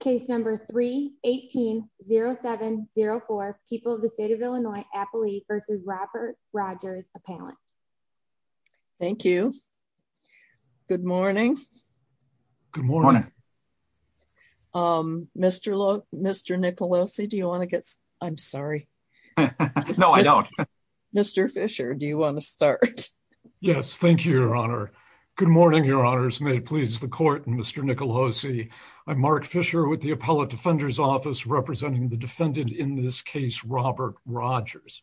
Case number 318-0704, people of the state of Illinois, Appalachia, versus Robert Rogers, appellant. Thank you. Good morning. Good morning. Um, Mr. Nicolosi, do you want to get... I'm sorry. No, I don't. Mr. Fisher, do you want to start? Yes, thank you, your honor. Good morning, your honors. May it please the court and Mr. Nicolosi, I'm Mark Fisher with the Appellate Defender's Office representing the defendant in this case, Robert Rogers.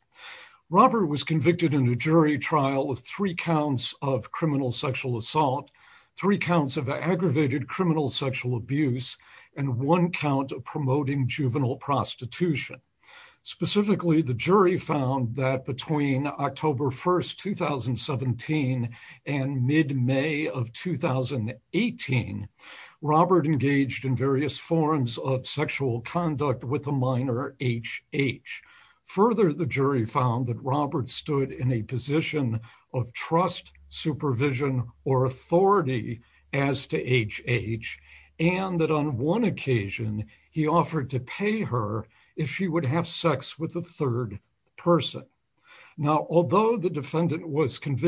Robert was convicted in a jury trial of three counts of criminal sexual assault, three counts of aggravated criminal sexual abuse, and one count of promoting juvenile prostitution. Specifically, the jury found that between October 1st, 2017 and mid-May of 2018, Robert engaged in various forms of sexual conduct with a minor, HH. Further, the jury found that Robert stood in a position of trust, supervision, or authority as to HH, and that on one occasion, he offered to pay her if she would have sex with a third person. Now, although the defendant was found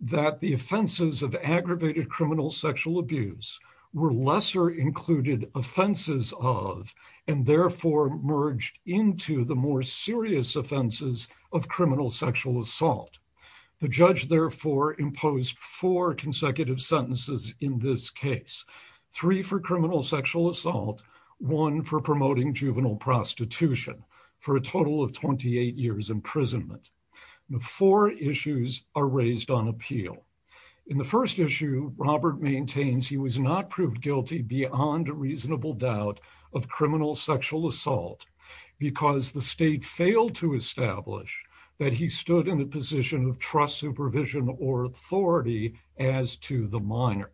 that the offenses of aggravated criminal sexual abuse were lesser included offenses of, and therefore merged into the more serious offenses of criminal sexual assault, the judge therefore imposed four consecutive sentences in this case, three for criminal sexual assault, one for promoting juvenile prostitution for a total of 28 years imprisonment. The four issues are raised on appeal. In the first issue, Robert maintains he was not proved guilty beyond a reasonable doubt of criminal sexual assault because the state failed to establish that he stood in a position of trust, supervision, or authority as to the minor.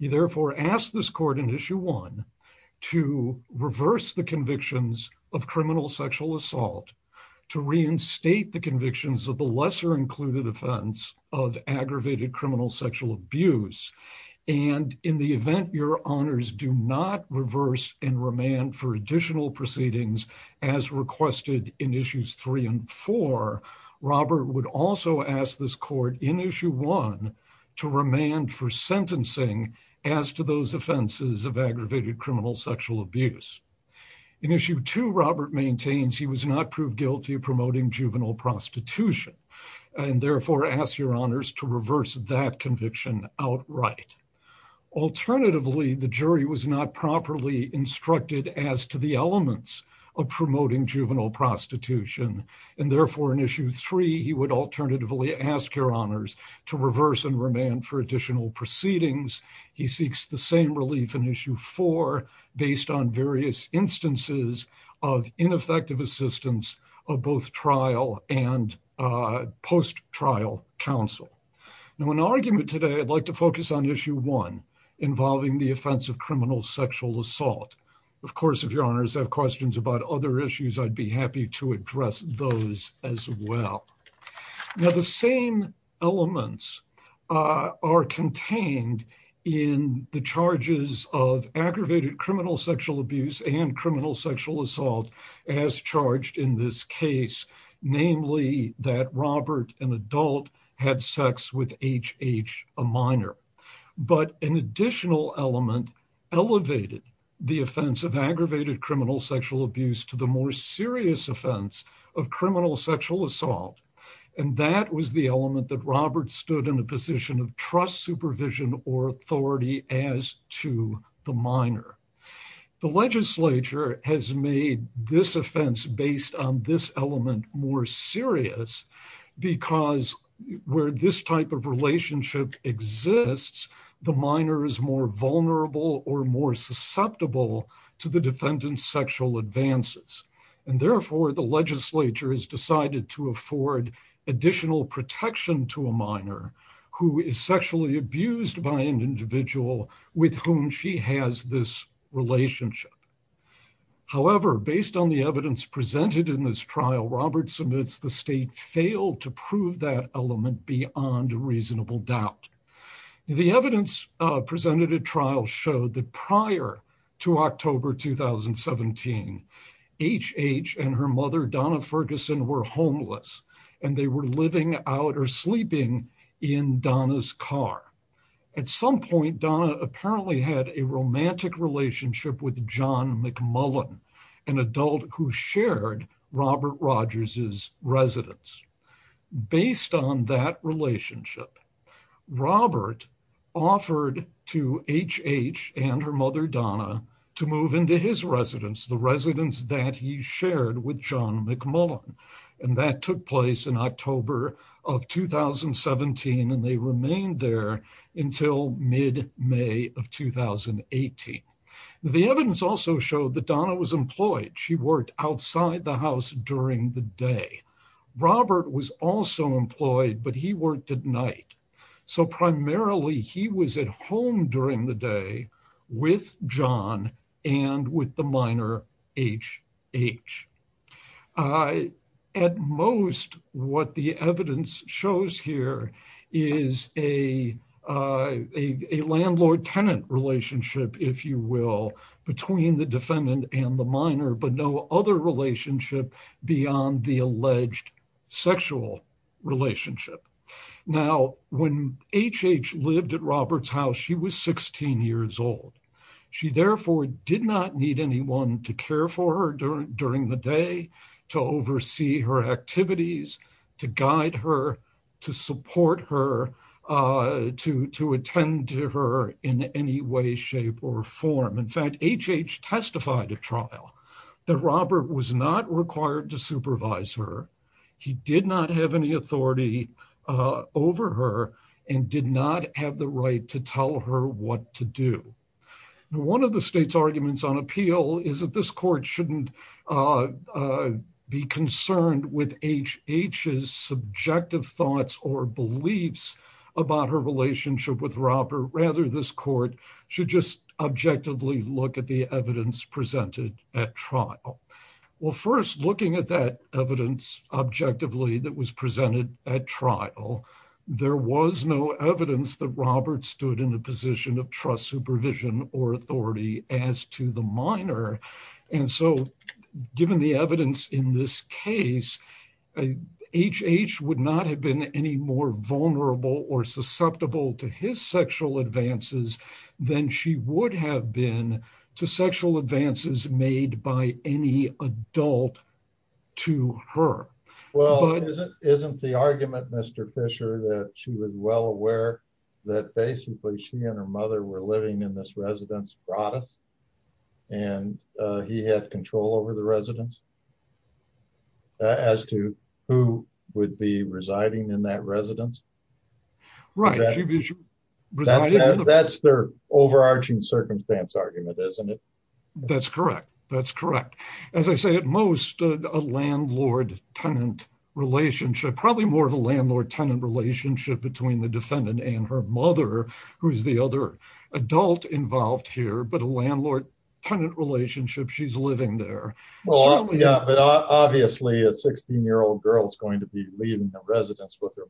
He therefore asked this court in issue one to reverse the convictions of criminal sexual assault, to reinstate the convictions of the lesser included offense of aggravated criminal sexual abuse, and in the event your honors do not reverse and remand for additional proceedings as requested in issues three and four, Robert would also ask this court in issue one to remand for sentencing as to those offenses of aggravated criminal sexual abuse. In issue two, Robert maintains he was not proved guilty of promoting juvenile prostitution, and therefore asked your honors to reverse that conviction outright. Alternatively, the jury was not properly instructed as to the elements of promoting juvenile prostitution, and therefore in issue three, he would alternatively ask your honors to reverse and remand for additional proceedings. He seeks the same relief in issue four based on various instances of ineffective assistance of both trial and post-trial counsel. Now in argument today, I'd like to focus on issue one involving the offense of criminal sexual assault. Of course, if your honors have questions about other issues, I'd be of aggravated criminal sexual abuse and criminal sexual assault as charged in this case, namely that Robert, an adult, had sex with HH, a minor. But an additional element elevated the offense of aggravated criminal sexual abuse to the more serious offense of criminal sexual assault, and that was the element that Robert stood in a position of trust supervision or authority as to the minor. The legislature has made this offense based on this element more serious because where this type of relationship exists, the minor is more vulnerable or more susceptible to the defendant's sexual advances, and therefore the legislature has decided to afford additional protection to a minor who is sexually abused by an individual with whom she has this relationship. However, based on the evidence presented in this trial, Robert submits the state failed to prove that element beyond reasonable doubt. The evidence presented at trial showed that prior to October 2017, HH and her mother Donna Ferguson were homeless, and they were living out or sleeping in Donna's car. At some point, Donna apparently had a romantic relationship with John McMullen, an adult who shared Robert Rogers' residence. Based on that relationship, Robert offered to HH and her mother Donna to move into his residence, the residence that he shared with John McMullen, and that took place in October of 2017, and they remained there until mid-May of 2018. The evidence also showed that Donna was employed. She worked outside the house during the day. Robert was also employed, but he worked at night, so primarily he was at home during the day with John and with the minor HH. At most, what the evidence shows here is a landlord-tenant relationship, if you will, between the defendant and the minor, but no other relationship beyond the alleged sexual relationship. Now, when HH lived at Robert's she was 16 years old. She therefore did not need anyone to care for her during the day, to oversee her activities, to guide her, to support her, to attend to her in any way, shape, or form. In fact, HH testified at trial that Robert was not required to supervise her. He did not have any authority over her and did not have the right to tell her what to do. One of the state's arguments on appeal is that this court shouldn't be concerned with HH's subjective thoughts or beliefs about her relationship with Robert. Rather, this court should just objectively look at the evidence presented at trial. Well, first, looking at that evidence objectively that was presented at trial, there was no evidence that Robert stood in the position of trust, supervision, or authority as to the minor. And so, given the evidence in this case, HH would not have been any more vulnerable or susceptible to his sexual advances than she would have been to sexual advances made by any adult to her. Well, isn't the argument, Mr. Fisher, that she was well aware that basically she and her mother were living in this residence, brought us, and he had control over the residence as to who would be residing in that residence? Right. That's their overarching circumstance argument, isn't it? That's correct. That's correct. As I say, at most, a landlord-tenant relationship, probably more of a landlord-tenant relationship between the defendant and her mother, who is the other adult involved here, but a landlord-tenant relationship, she's living there. Well, yeah, but obviously a 16-year-old girl is going to be leaving the residence with her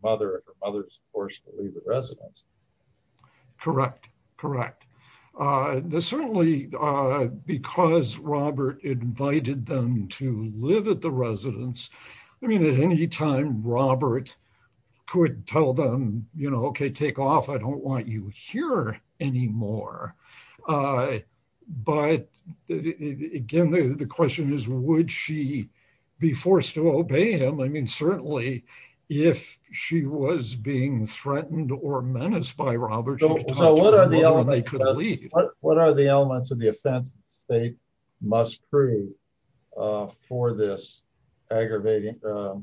forced to leave the residence. Correct. Correct. Certainly, because Robert invited them to live at the residence, I mean, at any time, Robert could tell them, you know, okay, take off, I don't want you here anymore. But again, the question is, would she be forced to obey him? I mean, certainly, if she was being threatened or menaced by Robert, she could talk to Robert and they could leave. What are the elements of the offense the state must prove for this aggravating, for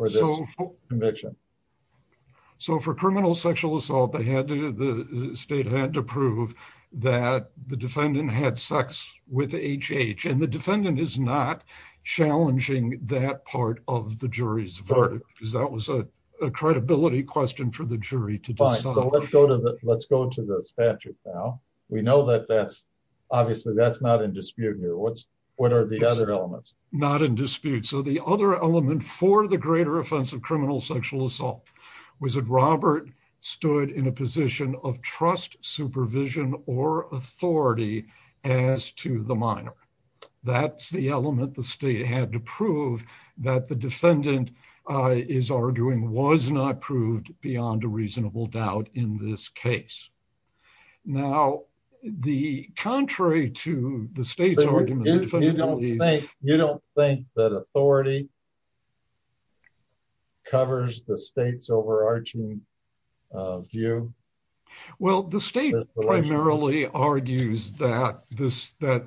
this conviction? So for criminal sexual assault, the state had to prove that the defendant had sex with H.H. And the defendant is not challenging that part of the jury's verdict, because that was a credibility question for the jury to decide. Fine. Let's go to the statute now. We know that that's, obviously, that's not in dispute here. What are the other elements? Not in dispute. So the other element for the greater offense of criminal sexual assault was that Robert stood in a position of trust, supervision, or authority as to the minor. That's the element the state had to prove that the defendant is arguing was not proved beyond a reasonable doubt in this case. Now, the contrary to the state's argument, You don't think that authority covers the state's overarching view? Well, the state primarily argues that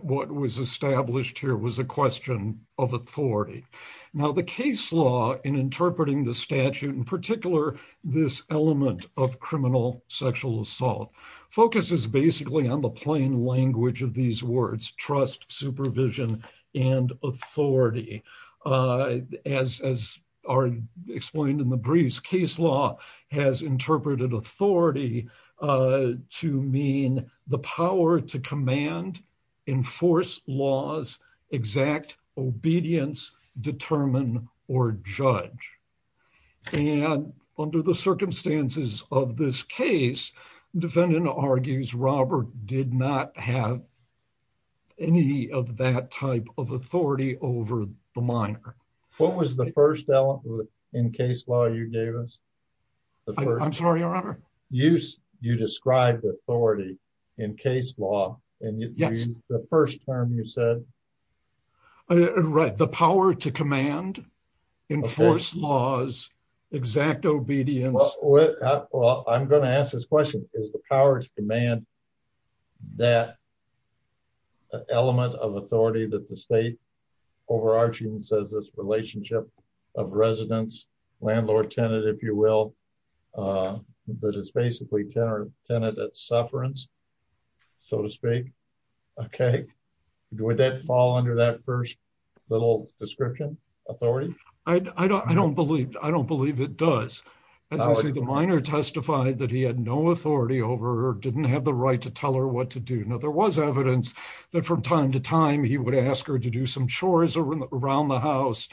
what was established here was a question of authority. Now, the case law in interpreting the statute, in particular, this element of criminal sexual assault, focuses basically on the plain language of these words, trust, supervision, and authority. As are explained in the briefs, case law has interpreted authority to mean the power to command, enforce laws, exact obedience, determine, or judge. And under the circumstances of this case, defendant argues Robert did not have any of that type of authority over the minor. What was the first element in case law you gave us? I'm sorry, your honor? You described authority in case law, and the first term you said? Right. The power to command, enforce laws, exact obedience. Well, I'm going to ask this question. Is the power to command that element of authority that the state overarching says this relationship of residence, landlord-tenant, if you will, that is basically tenant at sufferance, so to speak? Okay. Would that fall under that first little description, authority? I don't believe it does. As I say, the minor testified that he had no authority over her, didn't have the right to tell her what to do. Now, there was evidence that from time to time, he would ask her to do some chores around the house.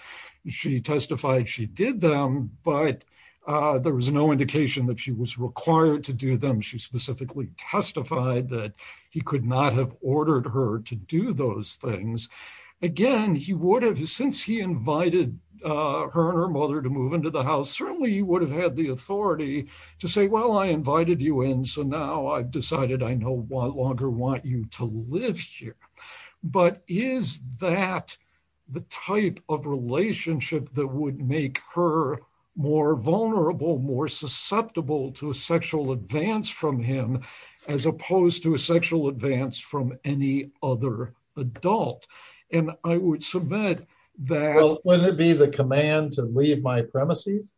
She testified she did them, but there was no indication that she was required to do them. She specifically testified that he could not have invited her and her mother to move into the house. Certainly, he would have had the authority to say, well, I invited you in, so now I've decided I no longer want you to live here. But is that the type of relationship that would make her more vulnerable, more susceptible to a sexual advance from him, as opposed to a sexual advance from any other adult? And I would submit that- Wouldn't it be the command to leave my premises?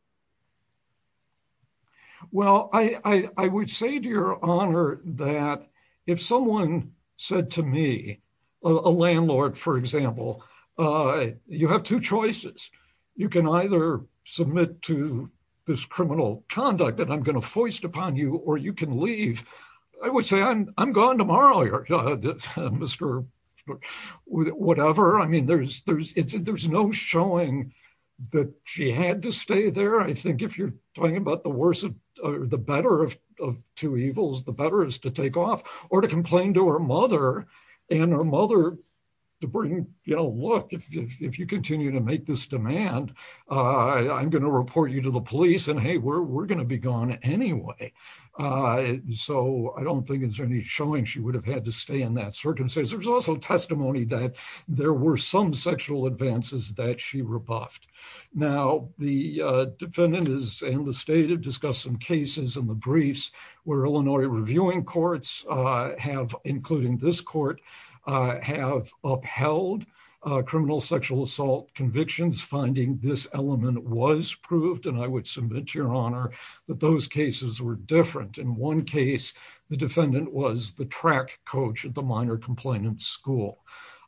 Well, I would say to your honor that if someone said to me, a landlord, for example, you have two choices. You can either submit to this criminal conduct that I'm going to foist upon you, or you can leave. I would say, I'm gone tomorrow, Mr. Whatever. I mean, there's no showing that she had to stay there. I think if you're talking about the worse or the better of two evils, the better is to take off or to complain to her mother and her mother to bring, you know, look, if you continue to make this demand, I'm going to report you to the police and hey, we're going to be gone anyway. So I don't think there's any showing she would have had to stay in that circumstance. There's also testimony that there were some sexual advances that she rebuffed. Now, the defendant and the state have discussed some cases in the briefs where Illinois reviewing courts have, including this court, have upheld criminal sexual assault convictions. Finding this element was proved, and I would submit to your honor that those cases were different. In one case, the defendant was the track coach at the minor complainant school.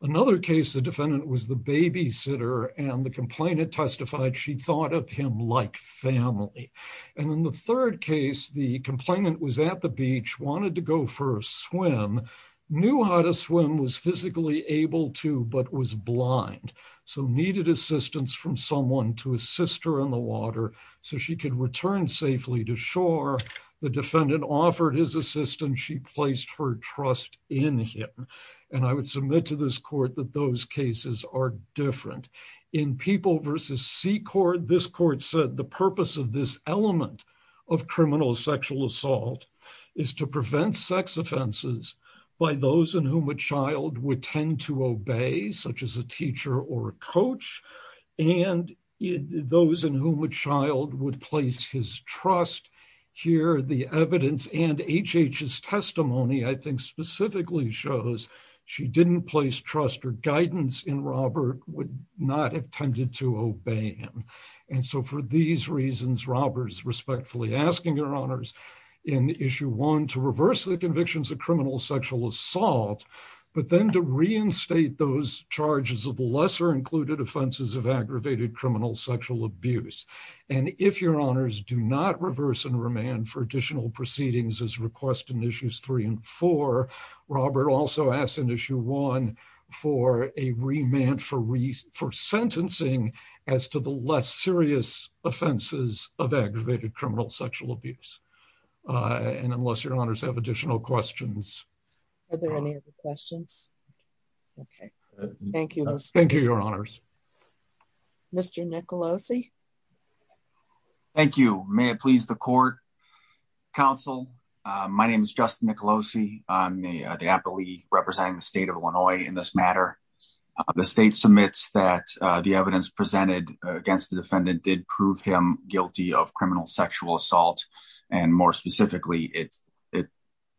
Another case, the defendant was the babysitter and the complainant testified she thought of him like family. And in the third case, the complainant was at the beach, wanted to go for a swim, knew how to swim, was physically able to, but was blind. So needed assistance from someone to assist her in the water so she could return safely to shore. The defendant offered his assistance. She placed her trust in him. And I would submit to this court that those cases are different. In People v. Secord, this court said the purpose of this element of criminal sexual assault is to prevent sex offenses by those in whom a child would tend to obey, such as a teacher or coach, and those in whom a child would place his trust. Here, the evidence and H.H.'s testimony, I think, specifically shows she didn't place trust or guidance in Robert, would not have tended to obey him. And so for these reasons, Robert's respectfully asking your honors in issue one to reverse the convictions of criminal sexual assault, but then to reinstate those charges of the lesser included offenses of aggravated criminal sexual abuse. And if your honors do not reverse and remand for additional proceedings as requested in issues three and four, Robert also asks in issue one for a remand for sentencing as to the less serious offenses of aggravated criminal sexual abuse. And unless your honors have additional questions. Are there any other questions? Okay. Thank you. Thank you, your honors. Mr. Nicolosi. Thank you. May it please the court counsel. My name is Justin Nicolosi. I'm the appellee representing the state of Illinois in this matter. The state submits that the evidence presented against the defendant did prove him guilty of criminal sexual assault. And more specifically, it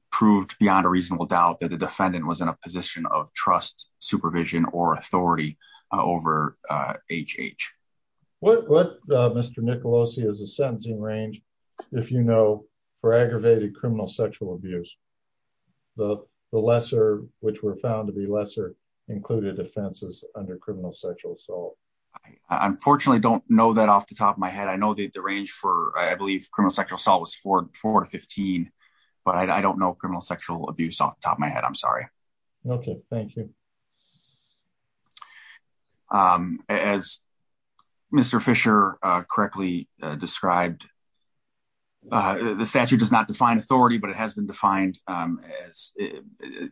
proved beyond a reasonable doubt that the defendant was in a position of trust supervision or authority over HH. What Mr. Nicolosi is a sentencing range, if you know, for aggravated criminal sexual abuse, the lesser which were found to be lesser included offenses under criminal sexual assault. I unfortunately don't know that off the top of my head. I know that the range for I believe sexual assault was four to 15. But I don't know criminal sexual abuse off the top of my head. I'm sorry. Okay, thank you. As Mr. Fisher correctly described, the statute does not define authority, but it has been defined as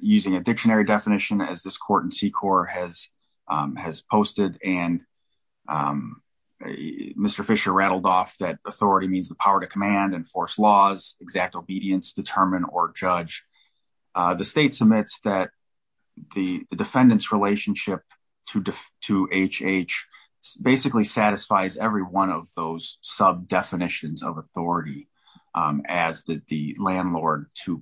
using a dictionary definition as this court and C core has, has posted and Mr. Fisher rattled off that authority means the power to command and force laws exact obedience, determine or judge. The state submits that the defendant's relationship to to HH basically satisfies every one of those sub definitions of authority, as the landlord to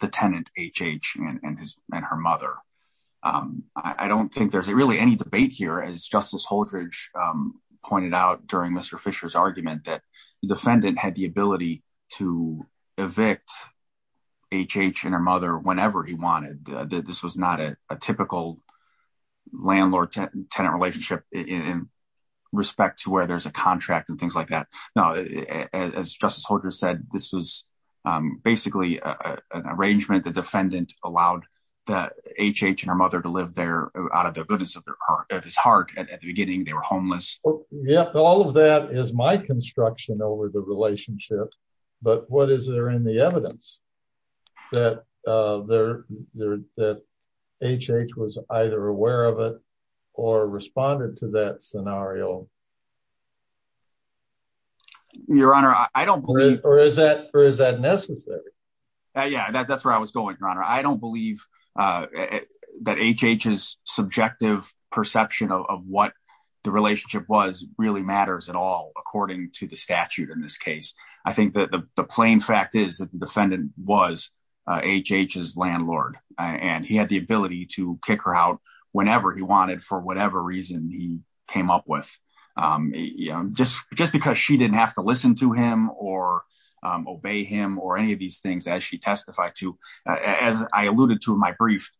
the tenant HH and his and her mother. I don't think there's really any debate here as Justice holdridge pointed out during Mr. Fisher's argument that the defendant had the ability to evict HH and her mother whenever he wanted. This was not a typical landlord tenant relationship in respect to where there's a contract and things like that. Now, as Justice Holdridge said, this was basically an arrangement the defendant allowed that HH and her mother to live there out of the goodness of their heart at his heart. And at the beginning, they were homeless. Yeah, all of that is my construction over the relationship. But what is there in the evidence that there that HH was either aware of it, or responded to that scenario? Your Honor, I don't believe or is that or is that necessary? Yeah, that's where I was going, Your Honor, I don't believe that HH's subjective perception of what the relationship was really matters at all, according to the statute. In this case, I think that the plain fact is that the defendant was HH's landlord, and he had the ability to kick her out whenever he wanted for whatever reason he came up with. Just because she didn't have to listen to him or obey him or any of these things as she testified to, as I alluded to in my brief,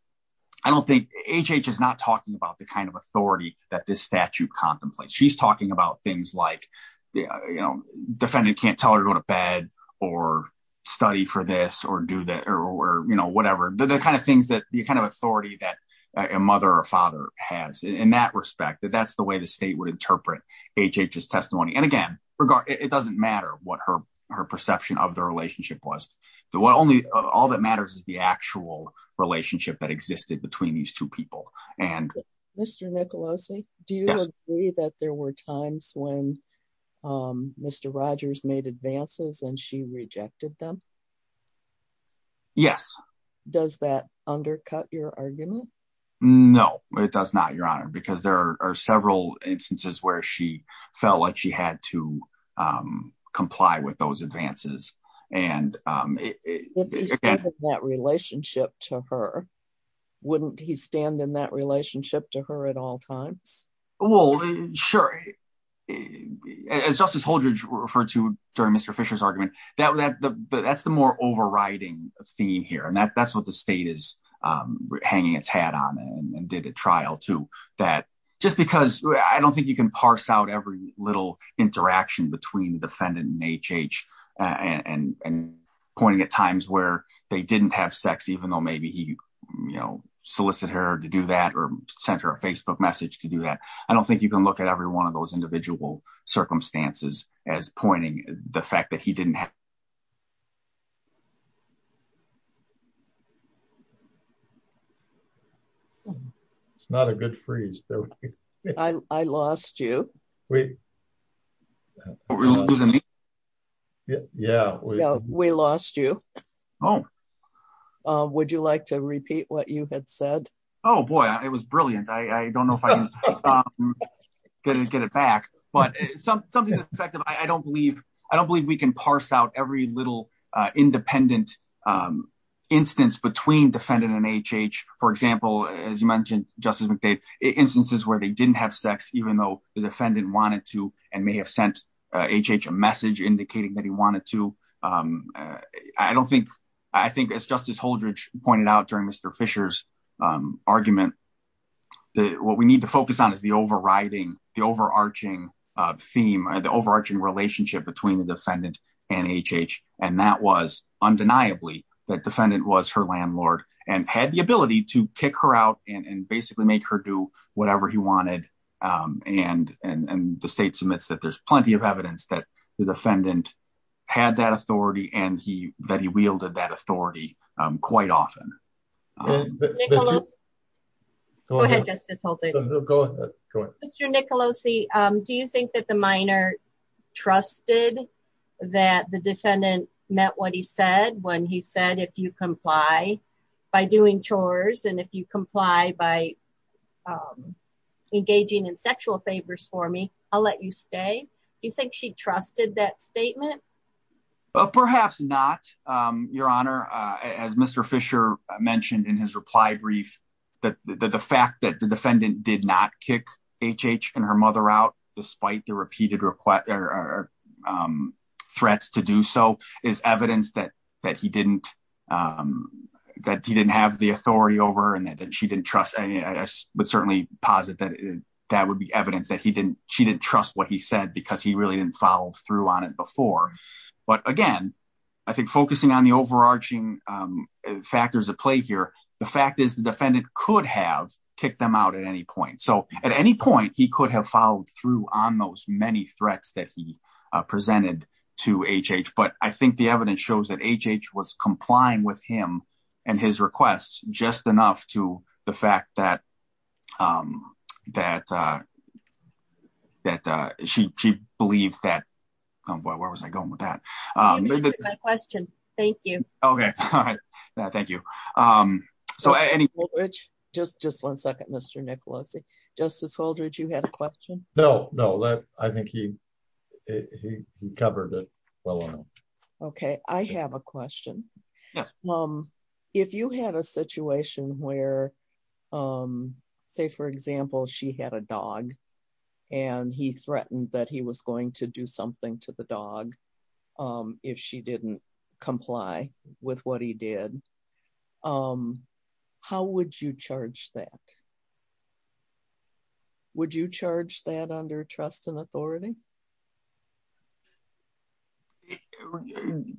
I don't think HH is not talking about the kind of authority that this statute contemplates. She's talking about things like the defendant can't tell her to go to bed or study for this or do that, or, you know, whatever the kind of things that the kind of authority that a mother or father has in that respect, that that's the way the state would interpret HH's testimony. And again, regard, it doesn't matter what her, her perception of the relationship was, the one only all that matters is the actual relationship that existed between these two people. And Mr. Nicolosi, do you agree that there were times when Mr. Rogers made advances and she Yes. Does that undercut your argument? No, it does not, Your Honor, because there are several instances where she felt like she had to comply with those advances. And that relationship to her, wouldn't he stand in that relationship to her at all times? Well, sure. As Justice Holdridge referred to during Mr. Fisher's argument, that that's the more overriding theme here. And that that's what the state is hanging its hat on and did a trial to that, just because I don't think you can parse out every little interaction between the defendant and HH and pointing at times where they didn't have sex, even though maybe he, you know, solicited her to do that or sent her a Facebook message to do that. I don't think you can look at every one of those individual circumstances as pointing the fact that he didn't have It's not a good freeze. I lost you. Yeah, we lost you. Oh, would you like to repeat what you had said? Oh, boy, it was brilliant. I don't know if I'm going to get it back. But something that I don't believe, I don't believe we can parse out every little independent instance between defendant and HH. For example, as you mentioned, Justice McDade, instances where they didn't have sex, even though the defendant wanted to, and may have sent HH a message indicating that he wanted to. I don't think I think as Justice pointed out during Mr. Fisher's argument, that what we need to focus on is the overriding, the overarching theme or the overarching relationship between the defendant and HH. And that was undeniably that defendant was her landlord and had the ability to kick her out and basically make her do whatever he wanted. And the state submits that there's plenty of evidence that the defendant had that authority and he that he wielded that authority quite often. Go ahead, Justice Holtage. Mr. Nicolosi, do you think that the minor trusted that the defendant met what he said when he said if you comply by doing chores, and if you comply by engaging in sexual favors for me, I'll let you stay? Do you think she trusted that statement? Perhaps not, Your Honor, as Mr. Fisher mentioned in his reply brief, that the fact that the defendant did not kick HH and her mother out, despite the repeated threats to do so is evidence that he didn't, that he didn't have the authority over and that she didn't trust. And I would certainly posit that that would be evidence that he didn't, she didn't trust what he said, because he really didn't follow through on it before. But again, I think focusing on the overarching factors at play here, the fact is the defendant could have kicked them out at any point. So at any point, he could have followed through on those many threats that he presented to HH. But I think it shows that HH was complying with him and his request just enough to the fact that that that she believed that. Where was I going with that? My question. Thank you. Okay. All right. Thank you. So any... Holdridge, just just one second, Mr. Nicolosi. Justice Holdridge, you had a question? No, no, I think he, he covered it well enough. Okay, I have a question. If you had a situation where, say, for example, she had a dog, and he threatened that he was going to do something to the dog, if she didn't comply with what he did, how would you charge that? Would you charge that under trust and authority?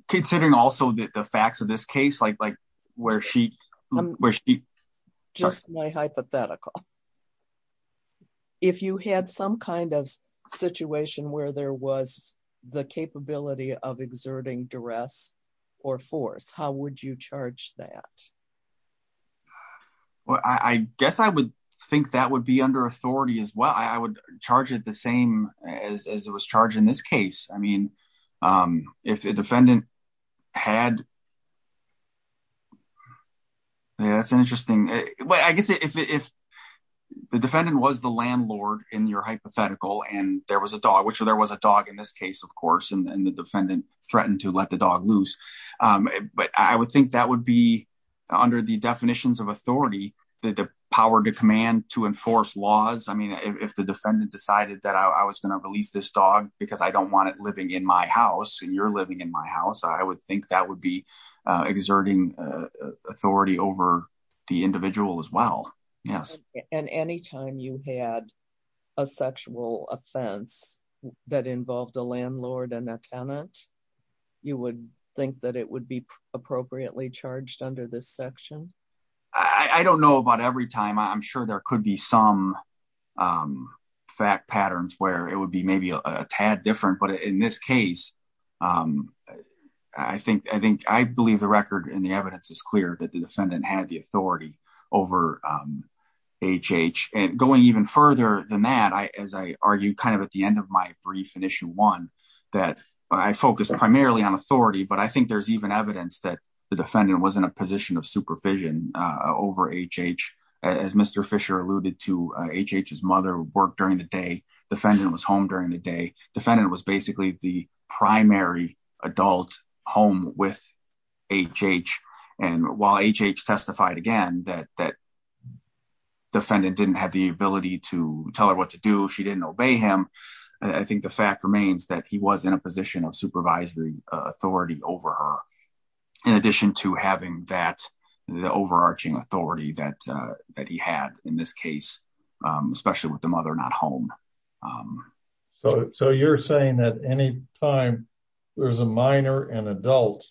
Considering also the facts of this case, like where she... Just my hypothetical. If you had some kind of situation where there was the capability of exerting duress or force, how would you charge that? Well, I guess I would think that would be under authority as well. I would think if the defendant was the landlord in your hypothetical, and there was a dog, which there was a dog in this case, of course, and the defendant threatened to let the dog loose. But I would think that would be under the definitions of authority, the power to command, to enforce laws. I mean, if the defendant decided that I was going to release this dog because I don't want it living in my house, and you're living in my house, I would think that would be exerting authority over the individual as well, yes. And anytime you had a sexual offense that involved a landlord and a tenant, you would think that it would be appropriately charged under this section? I don't know about every time. I'm sure there could be some fact patterns where it would be maybe a tad different. But in this case, I believe the record and the evidence is clear that the defendant had the authority over HH. And going even further than that, as I argued kind of at the end of my brief in issue one, that I focused primarily on authority, but I think there's even evidence that the defendant was in a work during the day. Defendant was home during the day. Defendant was basically the primary adult home with HH. And while HH testified again that defendant didn't have the ability to tell her what to do, she didn't obey him. I think the fact remains that he was in a position of supervisory authority over her. In addition to having that overarching authority that he had in this case, especially with the mother not home. So you're saying that any time there's a minor and adult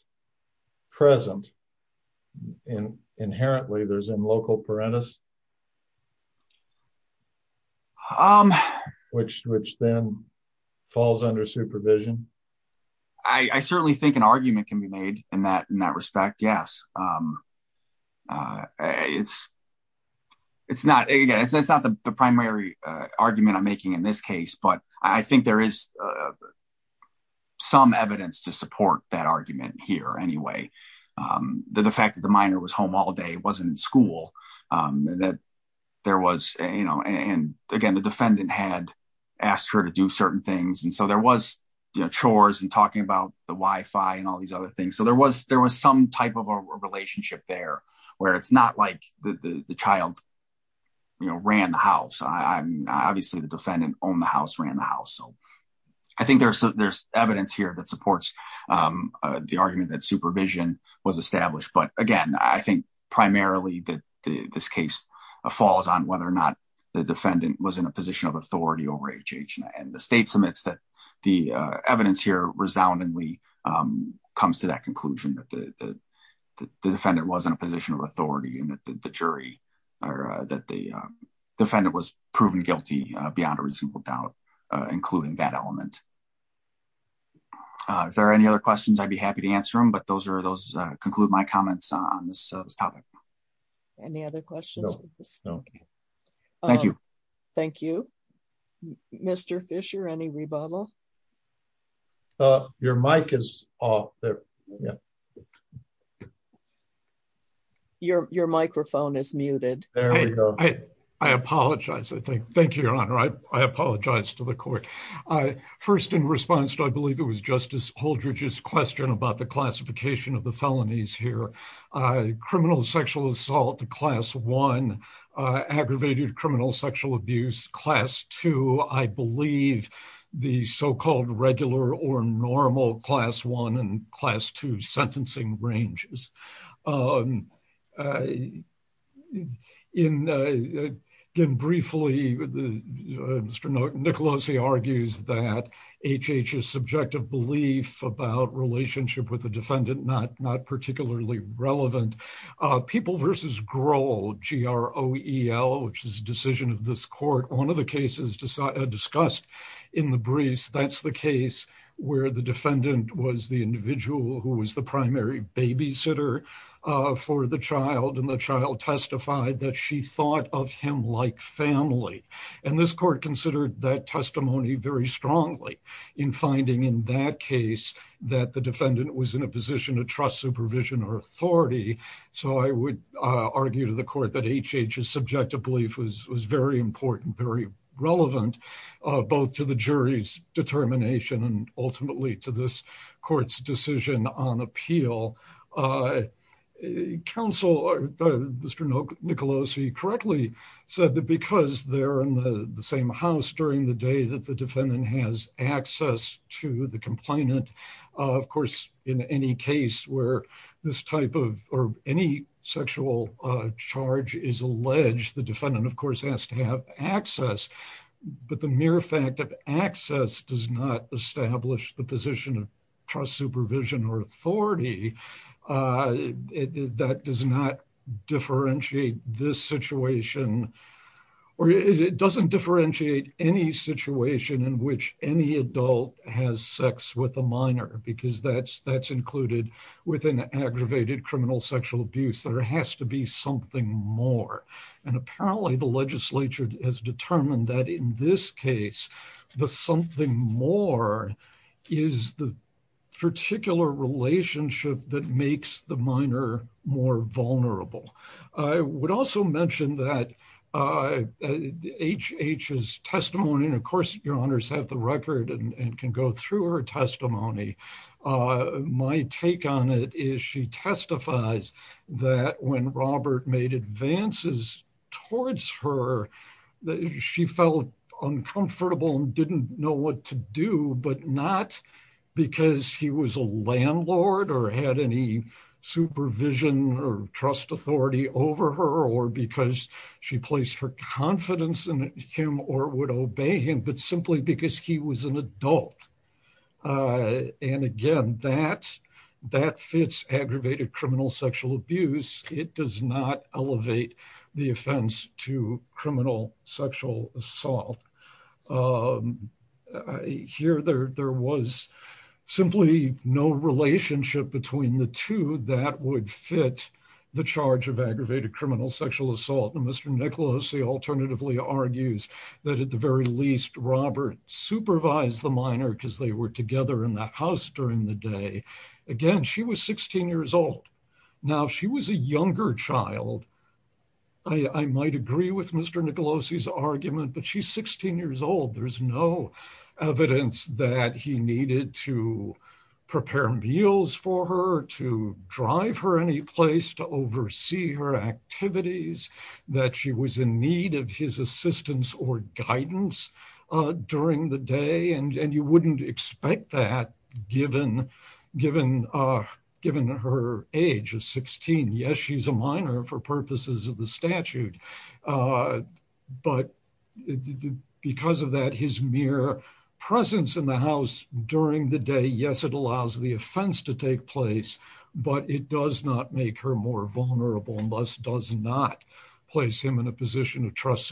present inherently, there's a local parentis which then falls under supervision? I certainly think an argument can be made in that respect. Yes. It's not the primary argument I'm making in this case, but I think there is some evidence to support that argument here anyway. The fact that the minor was home all day, wasn't in school. And again, the defendant had asked her to do certain things. And so there was chores and talking about the wifi and all these other things. So there was some type of a relationship there where it's not like the child ran the house. Obviously the defendant owned the house, ran the house. So I think there's evidence here that supports the argument that supervision was established. But again, I think primarily that this case falls on whether or not the defendant was in a position of authority over HHNA. And the state submits that the evidence here resoundingly comes to that conclusion that the defendant was in a position of authority and that the jury or that the defendant was proven guilty beyond a reasonable doubt, including that element. If there are any other questions, I'd be happy to answer them, but those are those conclude my comments on this topic. Any other questions? No. Thank you. Thank you, Mr. Fisher. Any rebuttal? Your mic is off there. Yeah. Your microphone is muted. I apologize. I think. Thank you, Your Honor. I apologize to the court. First in response to, I believe it was Justice Holdridge's question about the classification of the felonies here. Criminal sexual assault, class one. Aggravated criminal sexual abuse, class two. I believe the so-called regular or normal class one and class two sentencing ranges. In, again, briefly, Mr. Nicolosi argues that HH's subjective belief about relationship with defendant, not particularly relevant. People versus Grohl, G-R-O-E-L, which is a decision of this court. One of the cases discussed in the briefs, that's the case where the defendant was the individual who was the primary babysitter for the child and the child testified that she thought of him like family. And this court considered that testimony very strongly in finding in that case that the defendant was in a position to trust supervision or authority. So I would argue to the court that HH's subjective belief was very important, very relevant, both to the jury's determination and ultimately to this court's decision on appeal. Counsel, Mr. Nicolosi correctly said that because they're in the same house during the day that the two, the complainant, of course, in any case where this type of or any sexual charge is alleged, the defendant, of course, has to have access. But the mere fact of access does not establish the position of trust supervision or authority. That does not differentiate this situation or it doesn't differentiate any situation in which any adult has sex with a minor, because that's included within aggravated criminal sexual abuse. There has to be something more. And apparently the legislature has determined that in this case, the something more is the particular relationship that makes the minor more vulnerable. I would also mention that HH's testimony, and of course, your honors have the record and can go through her testimony. My take on it is she testifies that when Robert made advances towards her, she felt uncomfortable and didn't know what to do, but not because he was a landlord or had any supervision or trust authority over her or because she placed her confidence in him or would obey him, but simply because he was an adult. And again, that fits aggravated criminal sexual abuse. It does not elevate the offense to criminal sexual assault. Here, there was simply no relationship between the two that would fit the charge of aggravated criminal sexual assault. And Mr. Nicholas, he alternatively argues that at the very least, Robert supervised the minor because they were together in the house during the day. Again, she was 16 years old. Now, she was a younger child. I might agree with Mr. Nicolosi's argument, but she's 16 years old. There's no evidence that he needed to prepare meals for her, to drive her any place to oversee her activities, that she was in need of his assistance or guidance during the day. And you wouldn't expect that given her age of 16. Yes, she's a minor for purposes of the statute, but because of that, his mere presence in the house during the day, yes, it allows the offense to take place, but it does not make her more vulnerable unless it does not place him in a vulnerable position. So, in the event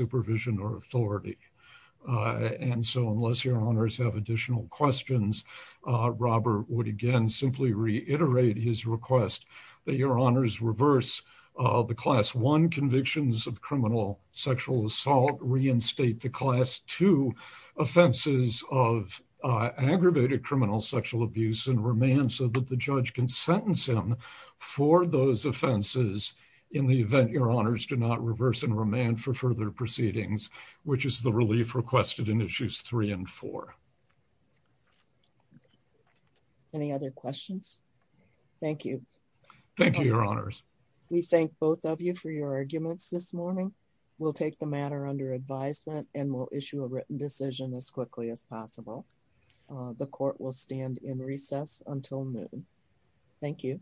of additional questions, Robert would again simply reiterate his request that your honors reverse the class one convictions of criminal sexual assault, reinstate the class two offenses of aggravated criminal sexual abuse and remand so that the judge can sentence him for those offenses in the event your honors do not reverse and remand for further proceedings, which is the relief requested in issues three and four. Any other questions? Thank you. Thank you, your honors. We thank both of you for your arguments this morning. We'll take the matter under advisement and we'll issue a written decision as quickly as possible. The court will stand in recess until noon. Thank you.